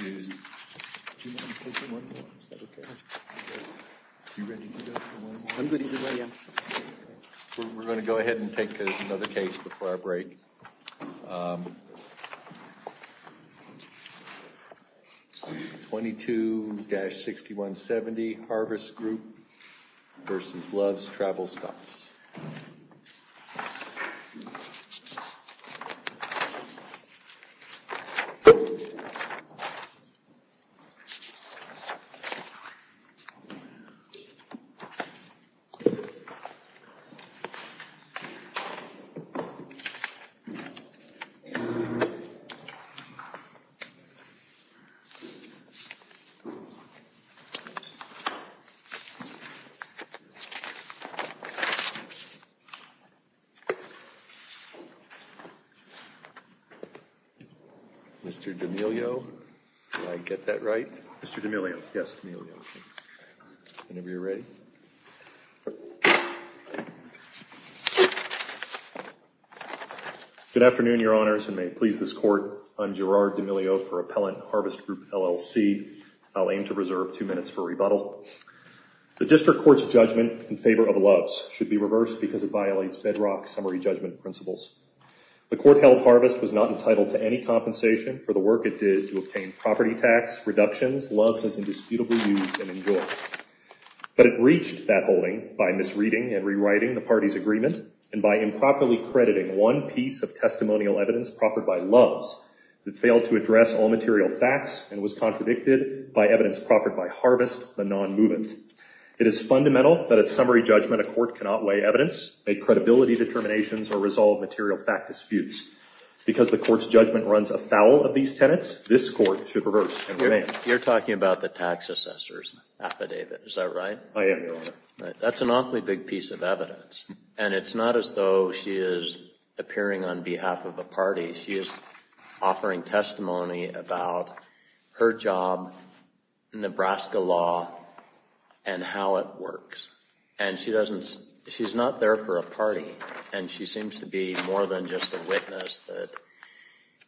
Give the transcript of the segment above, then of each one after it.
We're going to go ahead and take another case before our break. 22-6170 Harvest Group v. Love's Travel Stops Mr. D'Amelio, did I get that right? Mr. D'Amelio. Yes, D'Amelio. Whenever you're ready. Good afternoon, Your Honors, and may it please this Court, I'm Gerard D'Amelio for Appellant Harvest Group, LLC. Indeed, I'll aim to reserve two minutes for rebuttal. The District Court's judgment in favor of Love's should be reversed because it violates bedrock summary judgment principles. The Court held Harvest was not entitled to any compensation for the work it did to obtain property tax reductions Love's has indisputably used and enjoyed. But it reached that holding by misreading and rewriting the party's agreement and by improperly crediting one piece of testimonial evidence proffered by Love's that failed to address all material facts and was contradicted by evidence proffered by Harvest, the non-movement. It is fundamental that at summary judgment a court cannot weigh evidence, make credibility determinations, or resolve material fact disputes. Because the Court's judgment runs afoul of these tenets, this Court should reverse and revenge. You're talking about the tax assessor's affidavit, is that right? I am, Your Honor. That's an awfully big piece of evidence. And it's not as though she is appearing on behalf of a party. She is offering testimony about her job in Nebraska law and how it works. And she doesn't, she's not there for a party. And she seems to be more than just a witness that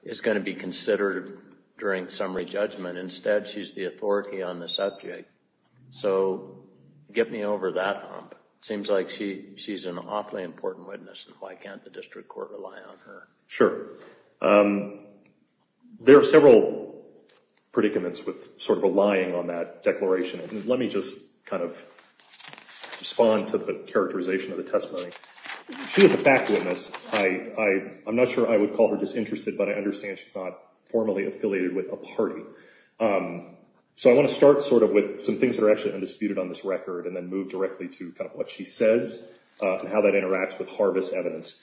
is going to be considered during summary judgment. Instead, she's the authority on the subject. So get me over that hump. It seems like she's an awfully important witness and why can't the district court rely on her? Sure. There are several predicaments with sort of relying on that declaration. Let me just kind of respond to the characterization of the testimony. She is a fact witness. I'm not sure I would call her disinterested, but I understand she's not formally affiliated with a party. So I want to start sort of with some things that are actually undisputed on this record and then move directly to kind of what she says and how that interacts with Harvis evidence.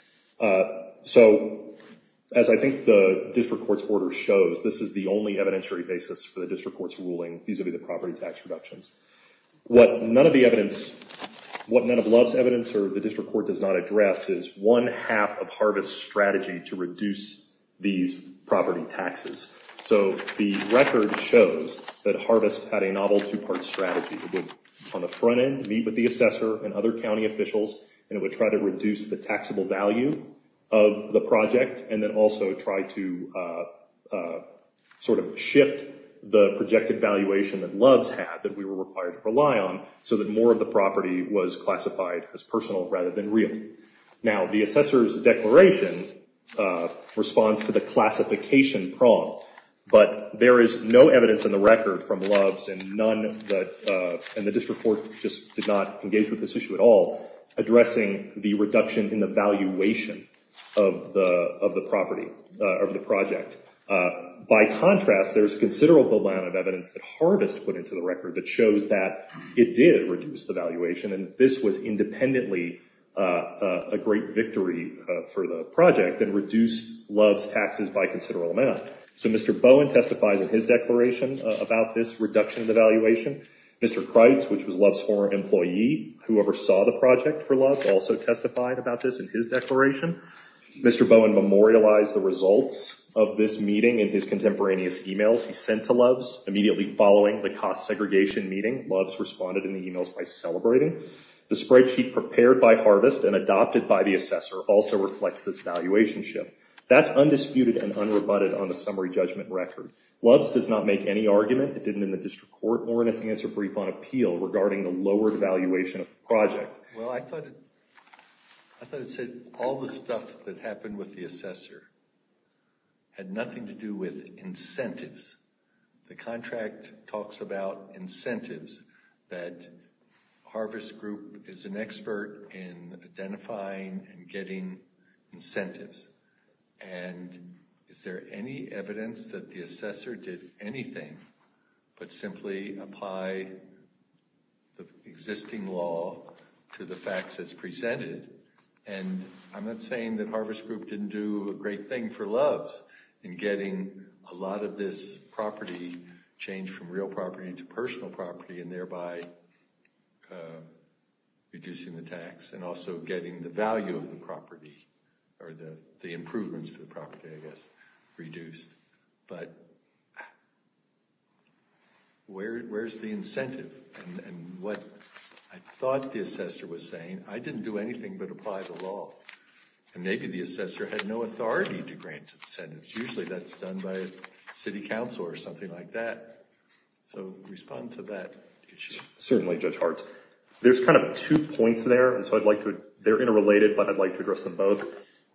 So as I think the district court's order shows, this is the only evidentiary basis for the district court's ruling vis-a-vis the property tax reductions. What none of the evidence, what none of Love's evidence or the district court does not address is one half of Harvis' strategy to reduce these property taxes. So the record shows that Harvis had a novel two-part strategy. It would, on the front end, meet with the assessor and other county officials and it would try to reduce the taxable value of the project and then also try to sort of shift the projected valuation that Love's had, that we were required to rely on, so that more of the property was classified as personal rather than real. Now, the assessor's declaration responds to the classification problem, but there is no evidence in the record from Love's and the district court just did not engage with this issue at all, addressing the reduction in the valuation of the property, of the project. By contrast, there's considerable amount of evidence that Harvis put into the record that shows that it did reduce the valuation and this was independently a great victory for the project and reduced Love's taxes by a considerable amount. So Mr. Bowen testifies in his declaration about this reduction of the valuation. Mr. Kreitz, which was Love's former employee, who oversaw the project for Love's, also testified about this in his declaration. Mr. Bowen memorialized the results of this meeting in his contemporaneous emails he sent to Love's. Immediately following the cost segregation meeting, Love's responded in the emails by celebrating. The spreadsheet prepared by Harvis and adopted by the assessor also reflects this valuation shift. That's undisputed and unrebutted on the summary judgment record. Love's does not make any argument. It didn't in the district court or in its answer brief on appeal regarding the lowered valuation of the project. Well, I thought it said all the stuff that happened with the assessor had nothing to do with incentives. The contract talks about incentives, that Harvis Group is an expert in identifying and getting incentives. And is there any evidence that the assessor did anything but simply apply the existing law to the facts as presented? And I'm not saying that Harvis Group didn't do a great thing for Love's in getting a lot of this property changed from real property to personal property, and thereby reducing the tax and also getting the value of the property or the improvements to the property, I guess, reduced. But where's the incentive? And what I thought the assessor was saying, I didn't do anything but apply the law. And maybe the assessor had no authority to grant incentives. Usually that's done by city council or something like that. So respond to that. Certainly, Judge Hartz. There's kind of two points there. And so I'd like to, they're interrelated, but I'd like to address them both.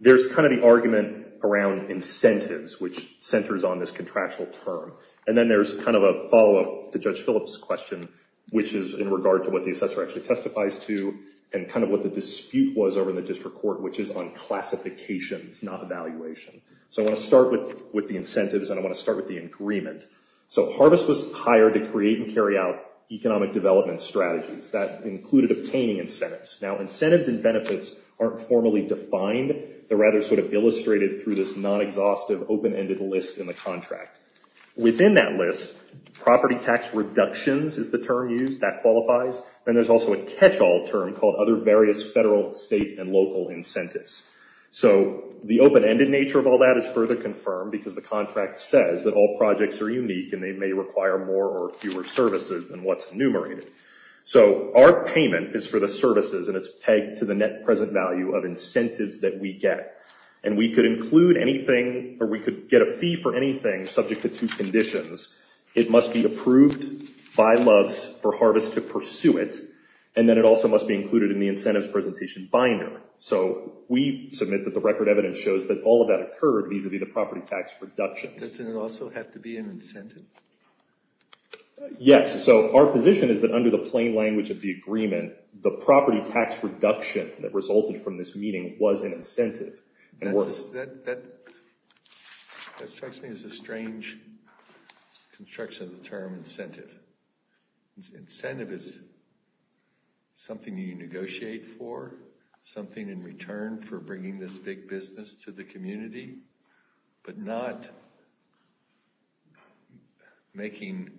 There's kind of the argument around incentives, which centers on this contractual term. And then there's kind of a follow-up to Judge Phillips' question, which is in regard to what the assessor actually testifies to, and kind of what the dispute was over in the district court, which is on classifications, not evaluation. So I want to start with the incentives, and I want to start with the agreement. So Harvis was hired to create and carry out economic development strategies. That included obtaining incentives. Now, incentives and benefits aren't formally defined. They're rather sort of illustrated through this non-exhaustive, open-ended list in the contract. Within that list, property tax reductions is the term used. That qualifies. Then there's also a catch-all term called other various federal, state, and local incentives. So the open-ended nature of all that is further confirmed because the contract says that all projects are unique, and they may require more or fewer services than what's enumerated. So our payment is for the services, and it's pegged to the net present value of incentives that we get. And we could include anything, or we could get a fee for anything subject to two conditions. It must be approved by Loves for Harvis to pursue it, and then it also must be included in the incentives presentation binary. So we submit that the record evidence shows that all of that occurred vis-a-vis the property tax reductions. Yes, so our position is that under the plain language of the agreement, the property tax reduction that resulted from this meeting was an incentive. That strikes me as a strange construction of the term incentive. Incentive is something you negotiate for, something in return for bringing this big business to the community, but not making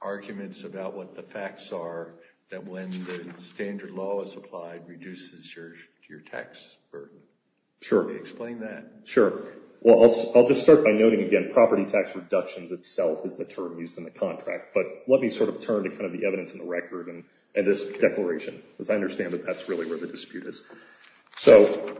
arguments about what the facts are that when the standard law is applied reduces your tax burden. Sure. Explain that. Sure. Well, I'll just start by noting again, property tax reductions itself is the term used in the contract. But let me sort of turn to kind of the evidence in the record and this declaration, because I understand that that's really where the dispute is. So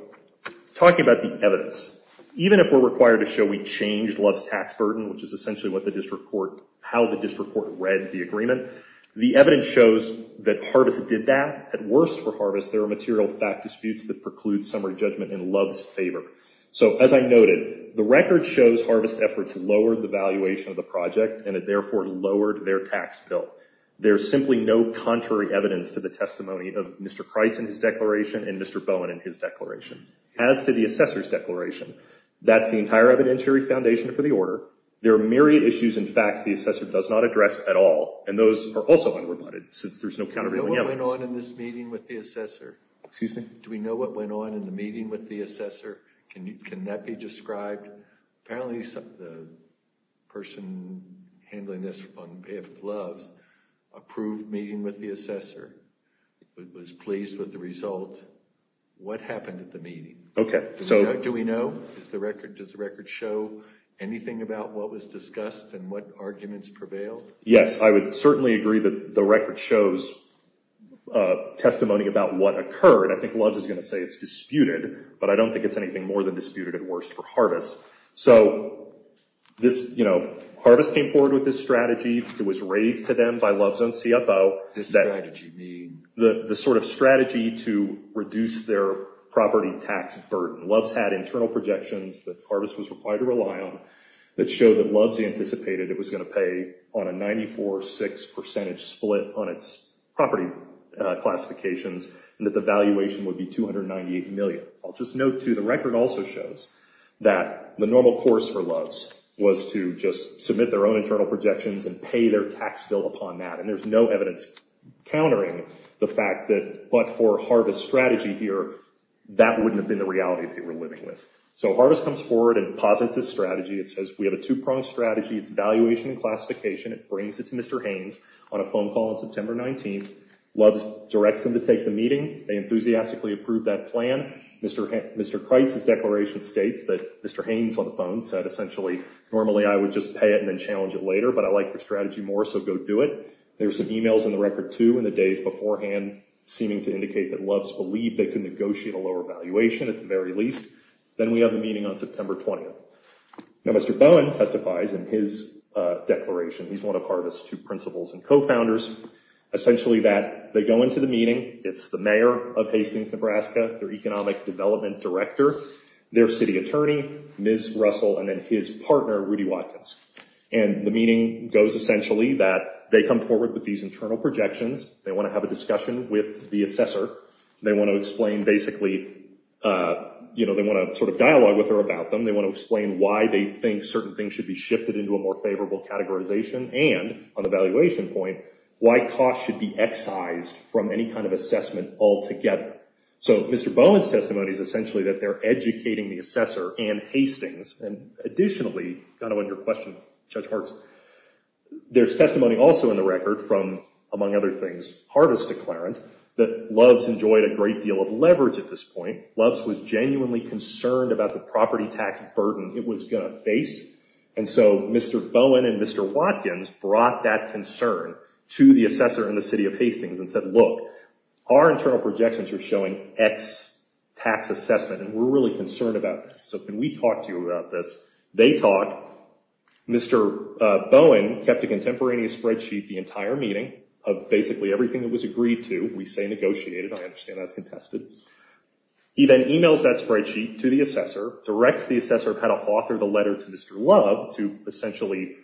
talking about the evidence, even if we're required to show we changed Loves' tax burden, which is essentially how the district court read the agreement, the evidence shows that Harvis did that. At worst for Harvis, there are material fact disputes that preclude summary judgment in Loves' favor. So as I noted, the record shows Harvis' efforts lowered the valuation of the project, and it therefore lowered their tax bill. There's simply no contrary evidence to the testimony of Mr. Kreitz in his declaration and Mr. Bowen in his declaration. As to the assessor's declaration, that's the entire evidentiary foundation for the order. There are myriad issues and facts the assessor does not address at all, and those are also unrebutted since there's no counter to the evidence. Do we know what went on in this meeting with the assessor? Excuse me? Do we know what went on in the meeting with the assessor? Can that be described? Apparently the person handling this on behalf of Loves approved meeting with the assessor, was pleased with the result. What happened at the meeting? Do we know? Does the record show anything about what was discussed and what arguments prevailed? Yes, I would certainly agree that the record shows testimony about what occurred. I think Loves is going to say it's disputed, but I don't think it's anything more than disputed at worst for Harvest. So Harvest came forward with this strategy. It was raised to them by Loves and CFO. What does strategy mean? The sort of strategy to reduce their property tax burden. Loves had internal projections that Harvest was required to rely on that showed that Loves anticipated it was going to pay on a 94-6 percentage split on its property classifications and that the valuation would be $298 million. I'll just note, too, the record also shows that the normal course for Loves was to just submit their own internal projections and pay their tax bill upon that, and there's no evidence countering the fact that, but for Harvest's strategy here, that wouldn't have been the reality they were living with. So Harvest comes forward and posits this strategy. It says we have a two-pronged strategy. It's valuation and classification. It brings it to Mr. Haynes on a phone call on September 19th. Loves directs them to take the meeting. They enthusiastically approve that plan. Mr. Kreitz's declaration states that Mr. Haynes on the phone said, essentially, normally I would just pay it and then challenge it later, but I like the strategy more, so go do it. There were some emails in the record, too, in the days beforehand seeming to indicate that Loves believed they could negotiate a lower valuation at the very least. Then we have the meeting on September 20th. Now Mr. Bowen testifies in his declaration. He's one of Harvest's two principals and co-founders. Essentially that they go into the meeting. It's the mayor of Hastings, Nebraska, their economic development director, their city attorney, Ms. Russell, and then his partner, Rudy Watkins. And the meeting goes essentially that they come forward with these internal projections. They want to have a discussion with the assessor. They want to explain basically, you know, they want to sort of dialogue with her about them. They want to explain why they think certain things should be shifted into a more favorable categorization and, on the valuation point, why costs should be excised from any kind of assessment altogether. So Mr. Bowen's testimony is essentially that they're educating the assessor and Hastings. And additionally, kind of on your question, Judge Hartz, there's testimony also in the record from, among other things, Harvest's declarant, that Loves enjoyed a great deal of leverage at this point. Loves was genuinely concerned about the property tax burden it was going to face. And so Mr. Bowen and Mr. Watkins brought that concern to the assessor in the city of Hastings and said, look, our internal projections are showing X tax assessment, and we're really concerned about this. So can we talk to you about this? They talked. Mr. Bowen kept a contemporaneous spreadsheet the entire meeting of basically everything that was agreed to. We say negotiated. I understand that's contested. He then emails that spreadsheet to the assessor, directs the assessor how to author the letter to Mr. Love to essentially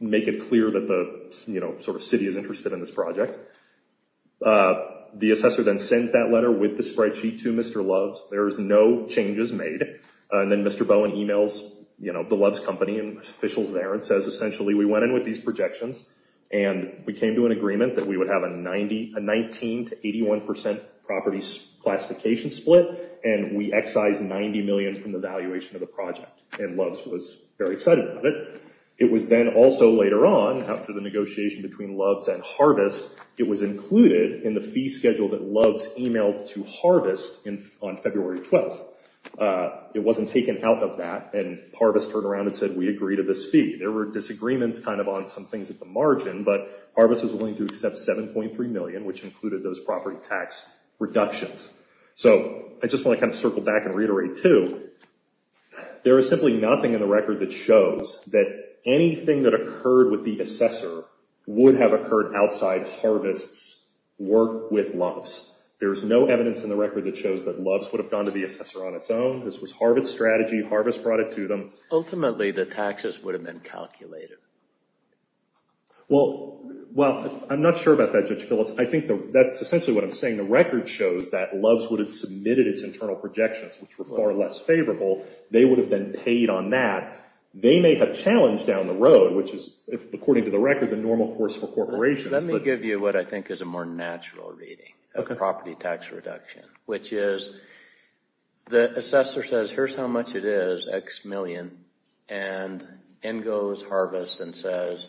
make it clear that the city is interested in this project. The assessor then sends that letter with the spreadsheet to Mr. Loves. There is no changes made. And then Mr. Bowen emails the Loves company and officials there and says essentially we went in with these projections and we came to an agreement that we would have a 19% to 81% property classification split, and we excised $90 million from the valuation of the project, and Loves was very excited about it. It was then also later on after the negotiation between Loves and Harvest, it was included in the fee schedule that Loves emailed to Harvest on February 12th. It wasn't taken out of that, and Harvest turned around and said we agree to this fee. There were disagreements kind of on some things at the margin, but Harvest was willing to accept $7.3 million, which included those property tax reductions. So I just want to kind of circle back and reiterate, too, there is simply nothing in the record that shows that anything that occurred with the assessor would have occurred outside Harvest's work with Loves. There is no evidence in the record that shows that Loves would have gone to the assessor on its own. This was Harvest's strategy. Harvest brought it to them. Ultimately, the taxes would have been calculated. Well, I'm not sure about that, Judge Phillips. I think that's essentially what I'm saying. The record shows that Loves would have submitted its internal projections, which were far less favorable. They would have been paid on that. They may have challenged down the road, which is, according to the record, the normal course for corporations. Let me give you what I think is a more natural reading of property tax reduction, which is the assessor says here's how much it is, X million, and in goes Harvest and says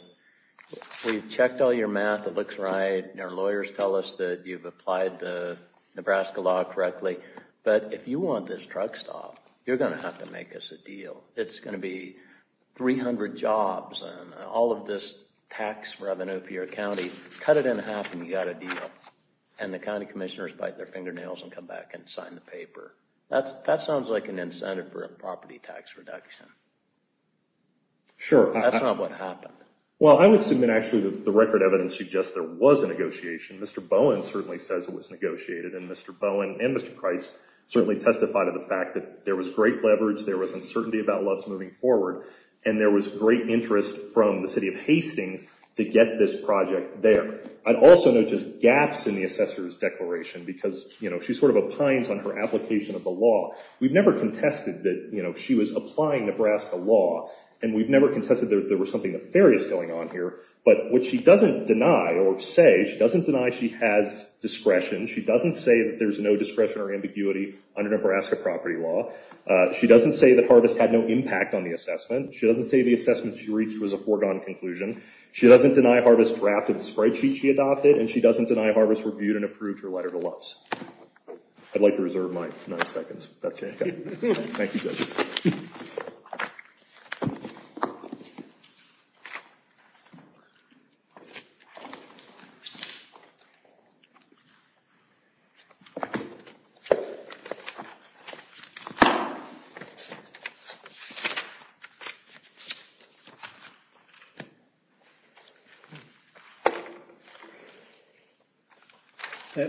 we checked all your math. It looks right. Our lawyers tell us that you've applied the Nebraska law correctly. But if you want this truck stopped, you're going to have to make us a deal. It's going to be 300 jobs and all of this tax revenue for your county. Cut it in half and you've got a deal. And the county commissioners bite their fingernails and come back and sign the paper. That sounds like an incentive for a property tax reduction. Sure. That's not what happened. Well, I would submit, actually, that the record evidence suggests there was a negotiation. Mr. Bowen certainly says it was negotiated. And Mr. Bowen and Mr. Price certainly testified of the fact that there was great leverage, there was uncertainty about Loves moving forward, and there was great interest from the city of Hastings to get this project there. I'd also note just gaps in the assessor's declaration because, you know, she sort of opines on her application of the law. We've never contested that, you know, she was applying Nebraska law. And we've never contested that there was something nefarious going on here. But what she doesn't deny or say, she doesn't deny she has discretion. She doesn't say that there's no discretion or ambiguity under Nebraska property law. She doesn't say that Harvest had no impact on the assessment. She doesn't say the assessment she reached was a foregone conclusion. She doesn't deny Harvest drafted the spreadsheet she adopted. And she doesn't deny Harvest reviewed and approved her letter to Loves. I'd like to reserve my nine seconds. That's it. Thank you, judges.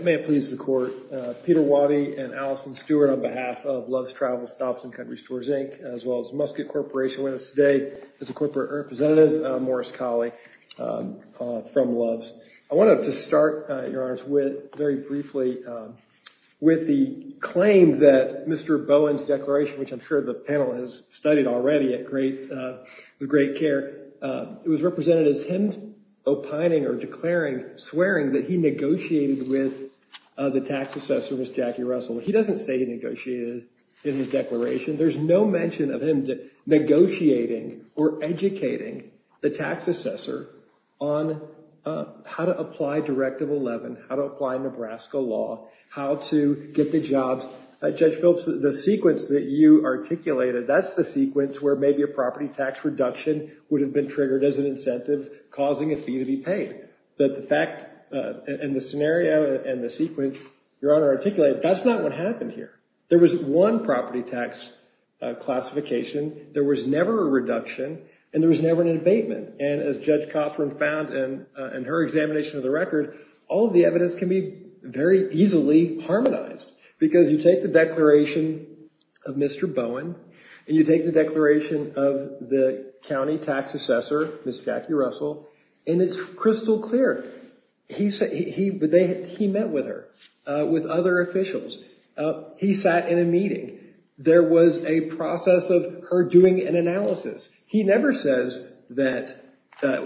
May it please the court. Peter Waddy and Allison Stewart on behalf of Loves Travel Stops and Country Stores, Inc., as well as Muscat Corporation with us today. This is Corporate Representative Morris Colley from Loves. I wanted to start, Your Honor, very briefly with the claim that Mr. Bowen's declaration, which I'm sure the panel has studied already with great care, it was represented as him opining or declaring, swearing that he negotiated with the tax assessor, Ms. Jackie Russell. He doesn't say he negotiated in his declaration. There's no mention of him negotiating or educating the tax assessor on how to apply Directive 11, how to apply Nebraska law, how to get the jobs. Judge Phelps, the sequence that you articulated, that's the sequence where maybe a property tax reduction would have been triggered as an incentive causing a fee to be paid. But the fact and the scenario and the sequence Your Honor articulated, that's not what happened here. There was one property tax classification. There was never a reduction. And there was never an abatement. And as Judge Cothran found in her examination of the record, all of the evidence can be very easily harmonized. Because you take the declaration of Mr. Bowen and you take the declaration of the county tax assessor, Ms. Jackie Russell, and it's crystal clear. He met with her, with other officials. He sat in a meeting. There was a process of her doing an analysis. He never says that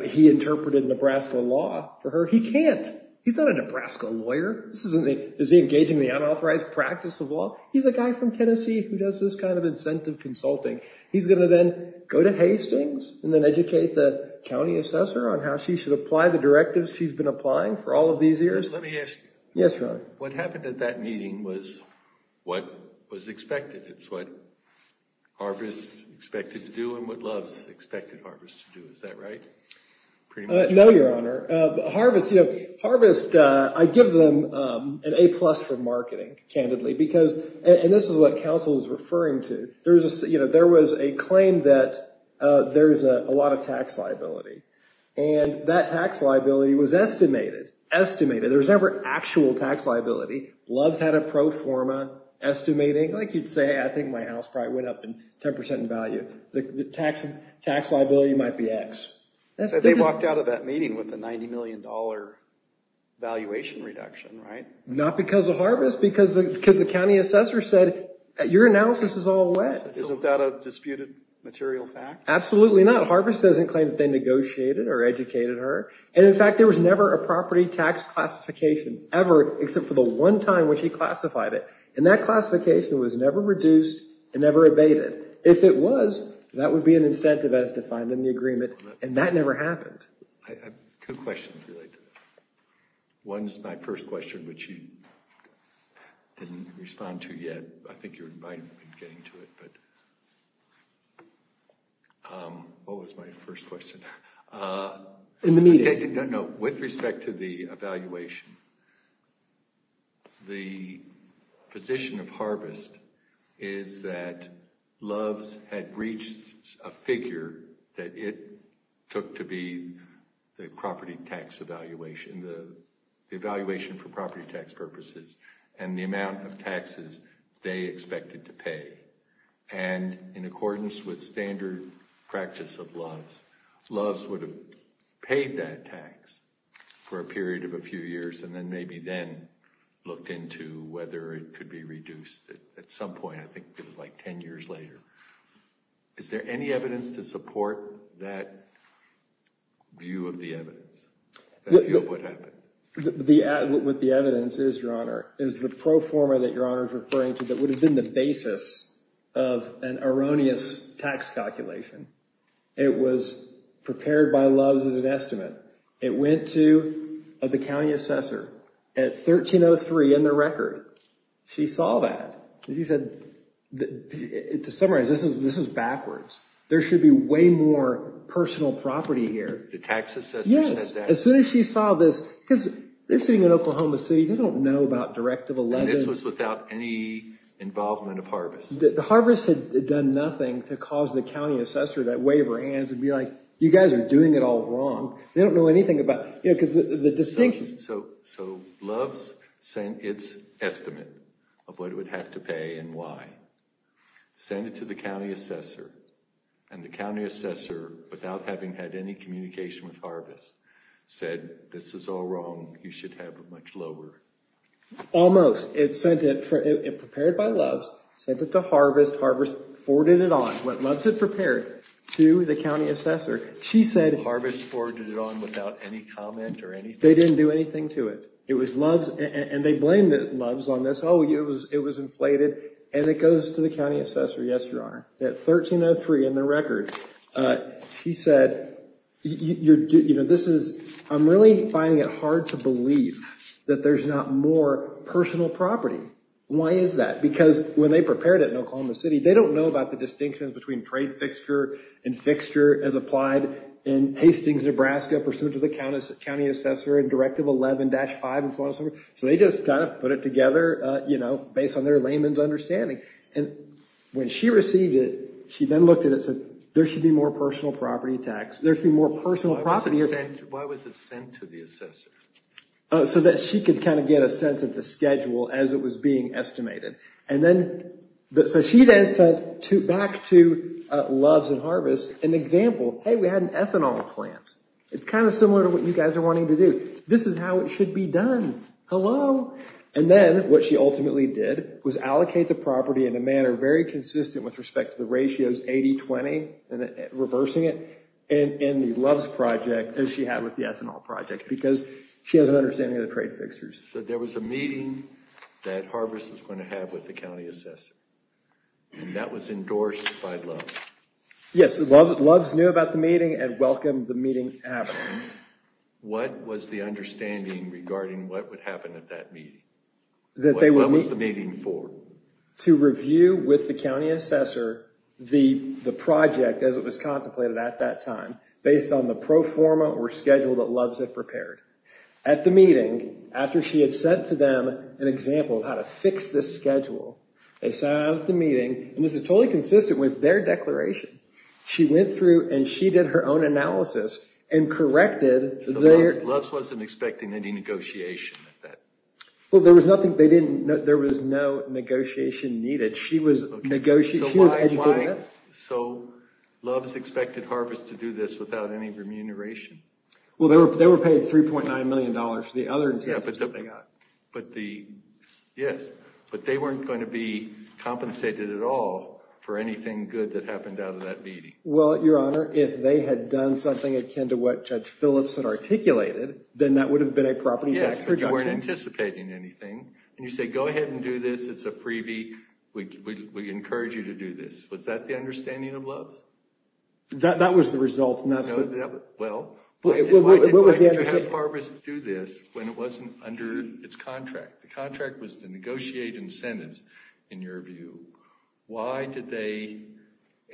he interpreted Nebraska law for her. He can't. He's not a Nebraska lawyer. This isn't the engaging the unauthorized practice of law. He's a guy from Tennessee who does this kind of incentive consulting. He's going to then go to Hastings and then educate the county assessor on how she should apply the directives she's been applying for all of these years. Let me ask you. Yes, Your Honor. What happened at that meeting was what was expected. It's what Harvest expected to do and what Loves expected Harvest to do. Is that right? No, Your Honor. Harvest, I give them an A plus for marketing, candidly. And this is what counsel is referring to. There was a claim that there's a lot of tax liability. And that tax liability was estimated. Estimated. There was never actual tax liability. Loves had a pro forma estimating. Like you'd say, I think my house probably went up 10% in value. The tax liability might be X. They walked out of that meeting with a $90 million valuation reduction, right? Not because of Harvest. Because the county assessor said your analysis is all wet. Isn't that a disputed material fact? Absolutely not. Harvest doesn't claim that they negotiated or educated her. And, in fact, there was never a property tax classification ever except for the one time when she classified it. And that classification was never reduced and never abated. If it was, that would be an incentive as defined in the agreement. And that never happened. I have two questions related to that. One is my first question, which you didn't respond to yet. I think you're invited to get into it. But what was my first question? In the meeting. No, with respect to the evaluation. The position of Harvest is that Loves had reached a figure that it took to be the property tax evaluation. The evaluation for property tax purposes and the amount of taxes they expected to pay. And in accordance with standard practice of Loves, Loves would have paid that tax for a period of a few years. And then maybe then looked into whether it could be reduced. At some point, I think it was like 10 years later. Is there any evidence to support that view of the evidence? That view of what happened? What the evidence is, Your Honor, is the pro forma that Your Honor is referring to that would have been the basis of an erroneous tax calculation. It was prepared by Loves as an estimate. It went to the county assessor at 1303 in the record. She saw that. She said, to summarize, this is backwards. There should be way more personal property here. The tax assessor said that? As soon as she saw this, because they're sitting in Oklahoma City. They don't know about Directive 11. And this was without any involvement of Harvest? Harvest had done nothing to cause the county assessor to wave her hands and be like, you guys are doing it all wrong. They don't know anything about it. So Loves sent its estimate of what it would have to pay and why. Sent it to the county assessor. And the county assessor, without having had any communication with Harvest, said, this is all wrong. You should have it much lower. Almost. It sent it prepared by Loves. Sent it to Harvest. Harvest forwarded it on. What Loves had prepared to the county assessor. Harvest forwarded it on without any comment or anything? They didn't do anything to it. And they blamed Loves on this. Oh, it was inflated. And it goes to the county assessor. Yes, Your Honor. At 13.03 in the record, she said, I'm really finding it hard to believe that there's not more personal property. Why is that? Because when they prepared it in Oklahoma City, they don't know about the distinction between trade fixture and fixture as applied in Hastings, Nebraska, pursuant to the county assessor and Directive 11-5. So they just kind of put it together, you know, based on their layman's understanding. And when she received it, she then looked at it and said, there should be more personal property tax. There should be more personal property. Why was it sent to the assessor? So that she could kind of get a sense of the schedule as it was being estimated. And then, so she then sent back to Loves and Harvest an example. Hey, we had an ethanol plant. It's kind of similar to what you guys are wanting to do. This is how it should be done. Hello? And then what she ultimately did was allocate the property in a manner very consistent with respect to the ratios 80-20, and reversing it in the Loves project as she had with the ethanol project, because she has an understanding of the trade fixtures. So there was a meeting that Harvest was going to have with the county assessor. And that was endorsed by Loves. Yes, Loves knew about the meeting and welcomed the meeting happening. What was the understanding regarding what would happen at that meeting? What was the meeting for? To review with the county assessor the project as it was contemplated at that time, based on the pro forma or schedule that Loves had prepared. At the meeting, after she had sent to them an example of how to fix this schedule, they sat down at the meeting, and this is totally consistent with their declaration. She went through and she did her own analysis and corrected. Loves wasn't expecting any negotiation at that. Well, there was no negotiation needed. She was educated enough. So Loves expected Harvest to do this without any remuneration? Well, they were paid $3.9 million for the other incentives that they got. Yes, but they weren't going to be compensated at all for anything good that happened out of that meeting. Well, Your Honor, if they had done something akin to what Judge Phillips had articulated, then that would have been a property tax reduction. Yes, but you weren't anticipating anything. And you say, go ahead and do this. It's a freebie. We encourage you to do this. Was that the understanding of Loves? That was the result. Well, why didn't you have Harvest do this when it wasn't under its contract? The contract was to negotiate incentives, in your view. Why did they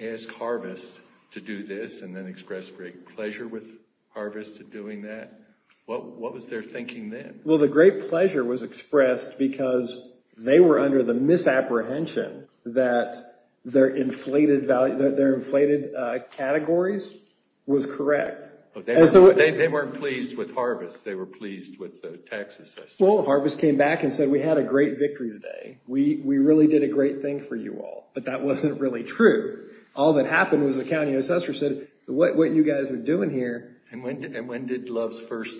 ask Harvest to do this and then express great pleasure with Harvest doing that? What was their thinking then? Well, the great pleasure was expressed because they were under the misapprehension that their inflated categories was correct. They weren't pleased with Harvest. They were pleased with the tax assessor. Well, Harvest came back and said, we had a great victory today. We really did a great thing for you all. But that wasn't really true. All that happened was the county assessor said, what you guys are doing here. And when did Loves first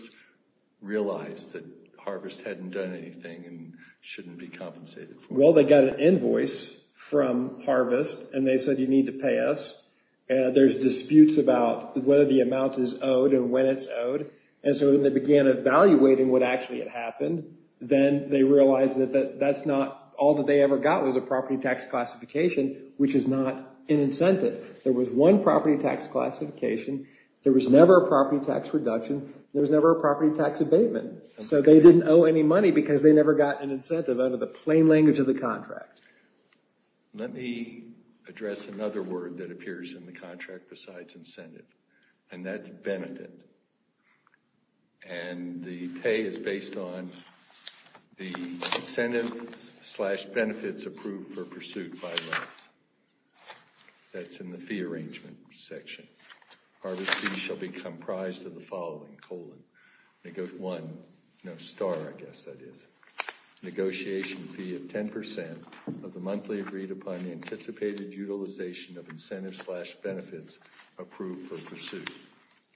realize that Harvest hadn't done anything and shouldn't be compensated? Well, they got an invoice from Harvest and they said, you need to pay us. There's disputes about whether the amount is owed and when it's owed. And so when they began evaluating what actually had happened, then they realized that that's not all that they ever got was a property tax classification, which is not an incentive. There was one property tax classification. There was never a property tax reduction. There was never a property tax abatement. So they didn't owe any money because they never got an incentive out of the plain language of the contract. Let me address another word that appears in the contract besides incentive. And that's benefit. And the pay is based on the incentive slash benefits approved for pursuit by Loves. That's in the fee arrangement section. Harvest fee shall be comprised of the following, colon, one, no star I guess that is. Negotiation fee of 10% of the monthly agreed upon anticipated utilization of incentives slash benefits approved for pursuit.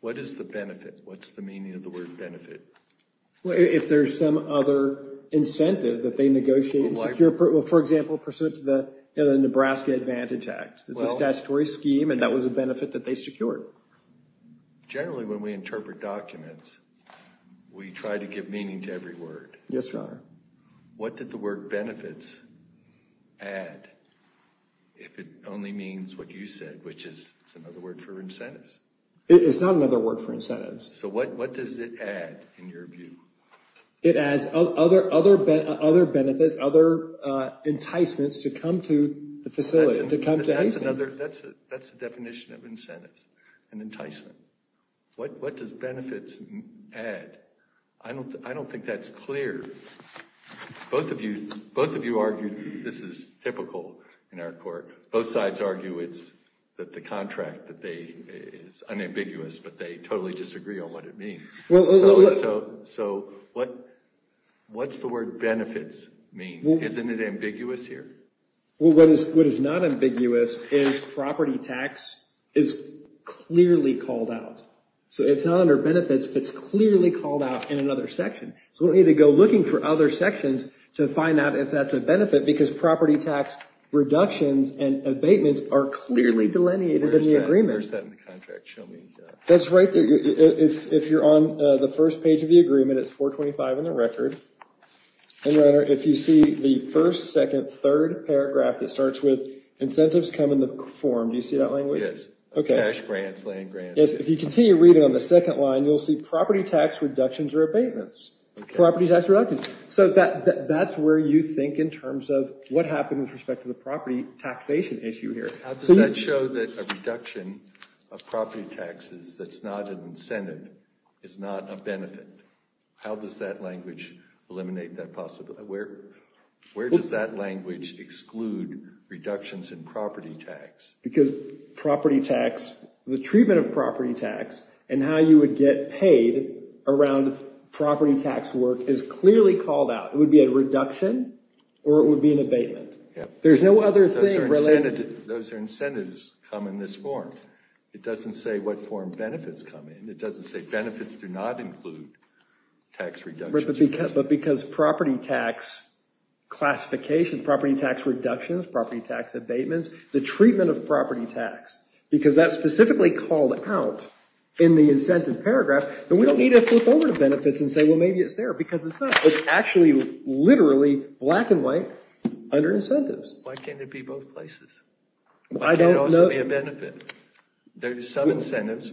What is the benefit? What's the meaning of the word benefit? If there's some other incentive that they negotiate and secure. For example, pursuit of the Nebraska Advantage Act. It's a statutory scheme and that was a benefit that they secured. Generally, when we interpret documents, we try to give meaning to every word. Yes, Your Honor. What did the word benefits add? If it only means what you said, which is another word for incentives. It's not another word for incentives. So what does it add in your view? It adds other benefits, other enticements to come to the facility. That's the definition of incentives and enticement. What does benefits add? I don't think that's clear. Both of you argued this is typical in our court. Both sides argue that the contract is unambiguous, but they totally disagree on what it means. So what's the word benefits mean? Isn't it ambiguous here? What is not ambiguous is property tax is clearly called out. So it's not under benefits, but it's clearly called out in another section. So we need to go looking for other sections to find out if that's a benefit because property tax reductions and abatements are clearly delineated in the agreement. Where's that in the contract? That's right there. If you're on the first page of the agreement, it's 425 in the record. If you see the first, second, third paragraph that starts with incentives come in the form, do you see that language? Yes, cash grants, land grants. If you continue reading on the second line, you'll see property tax reductions or abatements. Property tax reductions. So that's where you think in terms of what happened with respect to the property taxation issue here. How does that show that a reduction of property taxes that's not an incentive is not a benefit? How does that language eliminate that possibility? Where does that language exclude reductions in property tax? Because property tax, the treatment of property tax, and how you would get paid around property tax work is clearly called out. It would be a reduction or it would be an abatement. There's no other thing related. Those are incentives come in this form. It doesn't say what form benefits come in. It doesn't say benefits do not include tax reductions. But because property tax classification, property tax reductions, property tax abatements, the treatment of property tax, because that's specifically called out in the incentive paragraph, then we don't need to flip over to benefits and say, well, maybe it's there because it's not. It's actually literally black and white under incentives. Why can't it be both places? Why can't it also be a benefit? There's some incentives.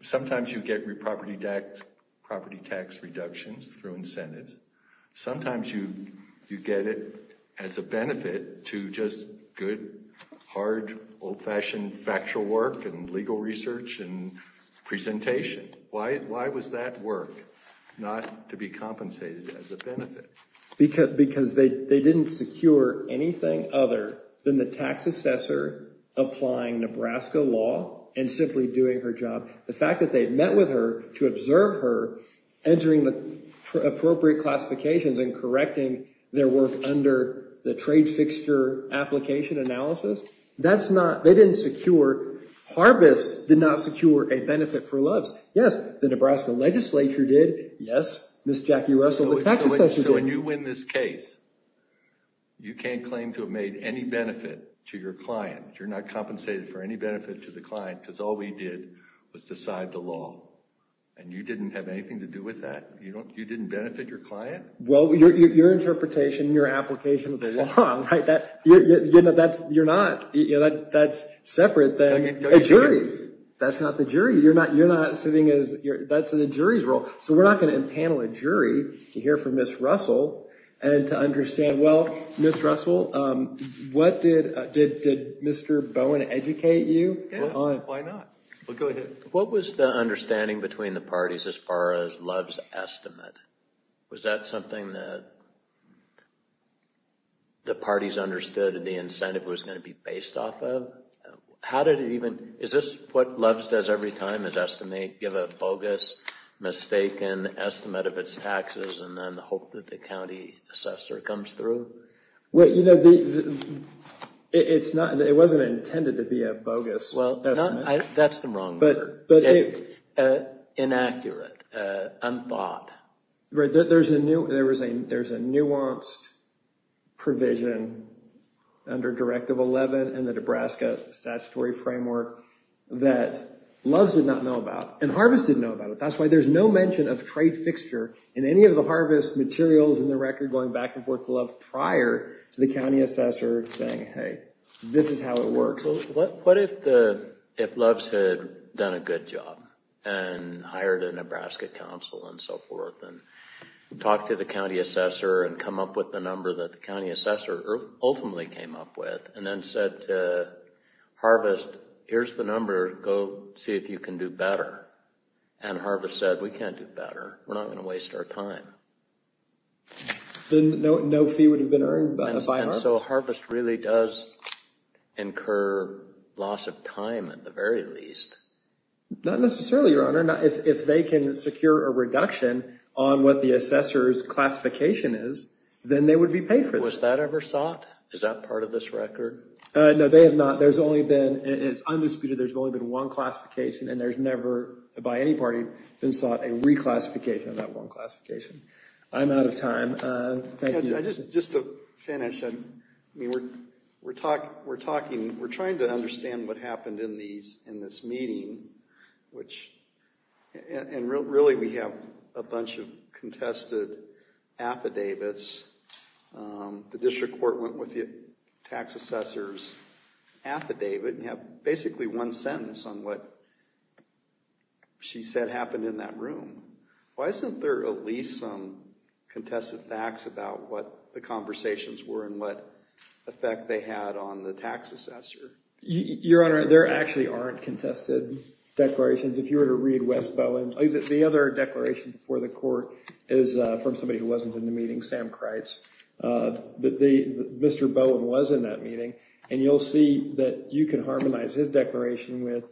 Sometimes you get property tax reductions through incentives. Sometimes you get it as a benefit to just good, hard, old-fashioned factual work and legal research and presentation. Why was that work not to be compensated as a benefit? Because they didn't secure anything other than the tax assessor applying Nebraska law and simply doing her job. The fact that they met with her to observe her entering the appropriate classifications and correcting their work under the trade fixture application analysis, that's not, they didn't secure, Harvest did not secure a benefit for Loves. Yes, the Nebraska legislature did. Yes, Ms. Jackie Russell, the tax assessor did. So when you win this case, you can't claim to have made any benefit to your client. You're not compensated for any benefit to the client because all we did was decide the law, and you didn't have anything to do with that? You didn't benefit your client? Well, your interpretation and your application of the law, you're not. That's separate than a jury. That's not the jury. You're not sitting as, that's in a jury's role. So we're not going to impanel a jury to hear from Ms. Russell and to understand, well, Ms. Russell, what did, did Mr. Bowen educate you on? Yeah, why not? Well, go ahead. What was the understanding between the parties as far as Loves' estimate? Was that something that the parties understood the incentive was going to be based off of? How did it even, is this what Loves does every time is estimate, give a bogus, mistaken estimate of its taxes, and then hope that the county assessor comes through? Wait, you know, it's not, it wasn't intended to be a bogus estimate. Well, that's the wrong word. Inaccurate, unthought. There's a nuanced provision under Directive 11 in the Nebraska statutory framework that Loves did not know about, and Harvest didn't know about it. That's why there's no mention of trade fixture in any of the Harvest materials in the record going back and forth to Love prior to the county assessor saying, hey, this is how it works. What if Loves had done a good job and hired a Nebraska counsel and so forth and talked to the county assessor and come up with the number that the county assessor ultimately came up with and then said to Harvest, here's the number, go see if you can do better. And Harvest said, we can't do better. We're not going to waste our time. Then no fee would have been earned by Harvest. So Harvest really does incur loss of time at the very least. Not necessarily, Your Honor. If they can secure a reduction on what the assessor's classification is, then they would be paid for this. Was that ever sought? Is that part of this record? No, they have not. There's only been, it's undisputed, there's only been one classification, and there's never, by any party, been sought a reclassification of that one classification. I'm out of time. Just to finish, we're trying to understand what happened in this meeting, and really we have a bunch of contested affidavits. The district court went with the tax assessor's affidavit and have basically one sentence on what she said happened in that room. Why isn't there at least some contested facts about what the conversations were and what effect they had on the tax assessor? Your Honor, there actually aren't contested declarations. If you were to read Wes Bowen's, the other declaration before the court is from somebody who wasn't in the meeting, Sam Kreitz. Mr. Bowen was in that meeting, and you'll see that you can harmonize his declaration with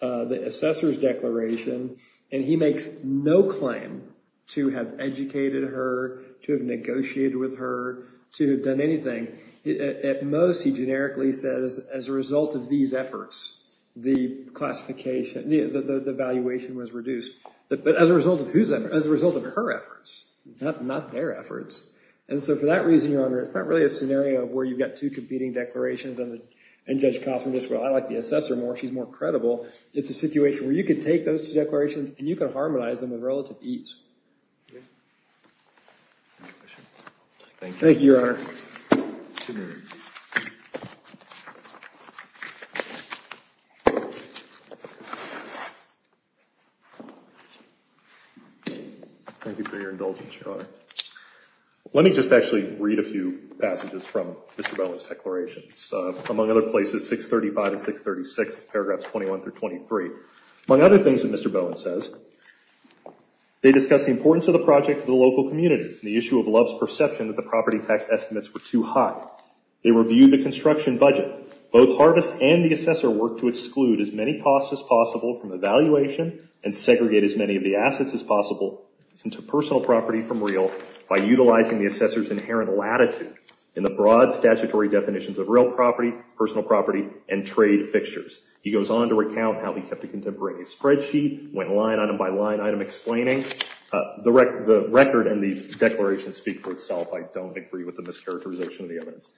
the assessor's declaration, and he makes no claim to have educated her, to have negotiated with her, to have done anything. At most, he generically says, as a result of these efforts, the classification, the evaluation was reduced. But as a result of whose efforts? As a result of her efforts. Not their efforts. And so for that reason, Your Honor, it's not really a scenario where you've got two competing declarations, and Judge Kaufman goes, well, I like the assessor more. She's more credible. It's a situation where you can take those two declarations, and you can harmonize them with relative ease. Thank you, Your Honor. Thank you for your indulgence, Your Honor. Let me just actually read a few passages from Mr. Bowen's declarations. Among other places, 635 and 636, paragraphs 21 through 23. Among other things that Mr. Bowen says, they discuss the importance of the project to the local community, and the issue of Love's perception that the property tax estimates were too high. They review the construction budget. Both Harvest and the assessor work to exclude as many costs as possible from evaluation and segregate as many of the assets as possible into personal property from real by utilizing the assessor's inherent latitude in the broad statutory definitions of real property, personal property, and trade fixtures. He goes on to recount how he kept a contemporaneous spreadsheet, went line item by line item explaining. The record and the declaration speak for itself. I don't agree with the mischaracterization of the evidence.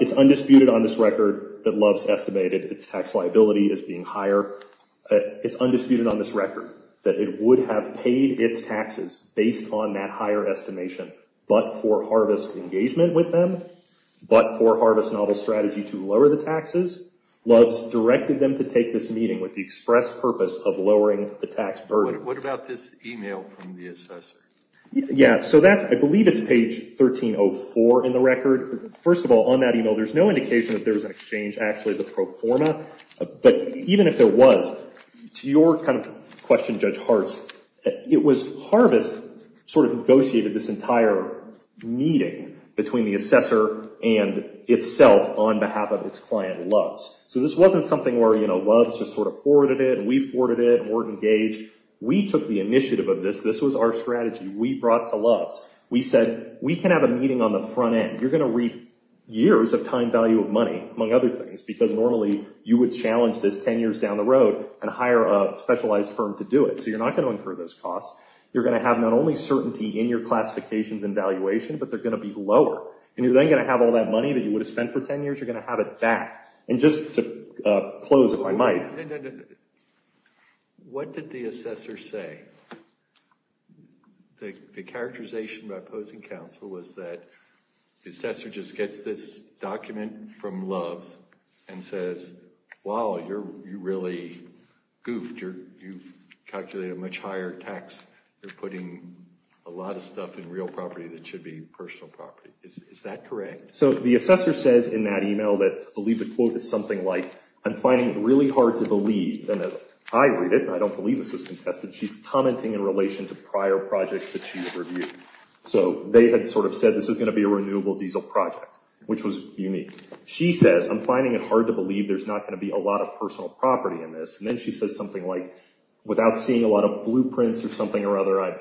It's undisputed on this record that Love's estimated its tax liability as being higher. It's undisputed on this record that it would have paid its taxes based on that higher estimation, but for Harvest's engagement with them, but for Harvest's novel strategy to lower the taxes, Love's directed them to take this meeting with the express purpose of lowering the tax burden. What about this email from the assessor? I believe it's page 1304 in the record. First of all, on that email, there's no indication that there was an exchange. Actually, the pro forma, but even if there was, to your kind of question, Judge Hartz, it was Harvest sort of negotiated this entire meeting between the assessor and itself on behalf of its client, Love's. So this wasn't something where, you know, Love's just sort of forwarded it, and we forwarded it, and weren't engaged. We took the initiative of this. This was our strategy. We brought to Love's. We said, we can have a meeting on the front end. You're going to reap years of time value of money, among other things, because normally you would challenge this 10 years down the road and hire a specialized firm to do it. So you're not going to incur those costs. You're going to have not only certainty in your classifications and valuation, but they're going to be lower. And you're then going to have all that money that you would have spent for 10 years, you're going to have it back. And just to close, if I might. What did the assessor say? The characterization by opposing counsel was that the assessor just gets this document from Love's and says, wow, you really goofed. You've calculated a much higher tax. You're putting a lot of stuff in real property that should be personal property. Is that correct? So the assessor says in that e-mail that the quote is something like, I'm finding it really hard to believe. And as I read it, and I don't believe this is contested, she's commenting in relation to prior projects that she reviewed. So they had sort of said this is going to be a renewable diesel project, which was unique. She says, I'm finding it hard to believe there's not going to be a lot of personal property in this. And then she says something like, without seeing a lot of blueprints or something or other, I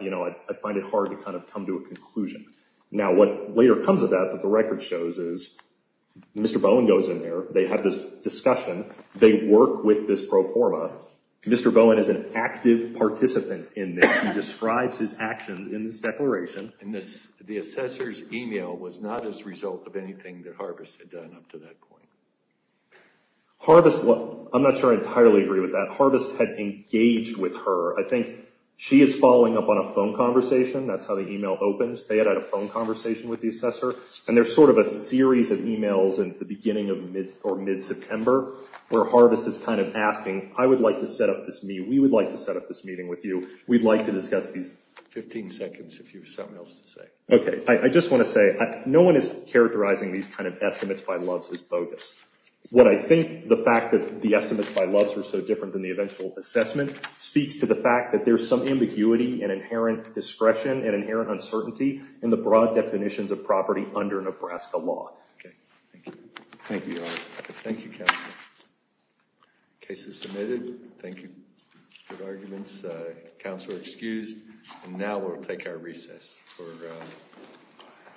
find it hard to kind of come to a conclusion. Now what later comes of that that the record shows is Mr. Bowen goes in there, they have this discussion, they work with this pro forma. Mr. Bowen is an active participant in this. He describes his actions in this declaration. And the assessor's e-mail was not as a result of anything that Harvest had done up to that point. Harvest, well, I'm not sure I entirely agree with that. Harvest had engaged with her. I think she is following up on a phone conversation. That's how the e-mail opens. They had had a phone conversation with the assessor. And there's sort of a series of e-mails in the beginning or mid-September where Harvest is kind of asking, I would like to set up this meeting. We would like to set up this meeting with you. We'd like to discuss these. Fifteen seconds if you have something else to say. Okay. I just want to say no one is characterizing these kind of estimates by loves as bogus. What I think the fact that the estimates by loves are so different than the eventual assessment speaks to the fact that there's some ambiguity and inherent discretion and inherent uncertainty in the broad definitions of property under Nebraska law. Okay. Thank you. Thank you, Counselor. Case is submitted. Thank you. Good arguments. Counselor excused. And now we'll take our recess.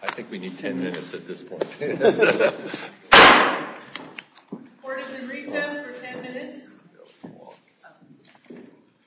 I think we need ten minutes at this point. Court is in recess for ten minutes.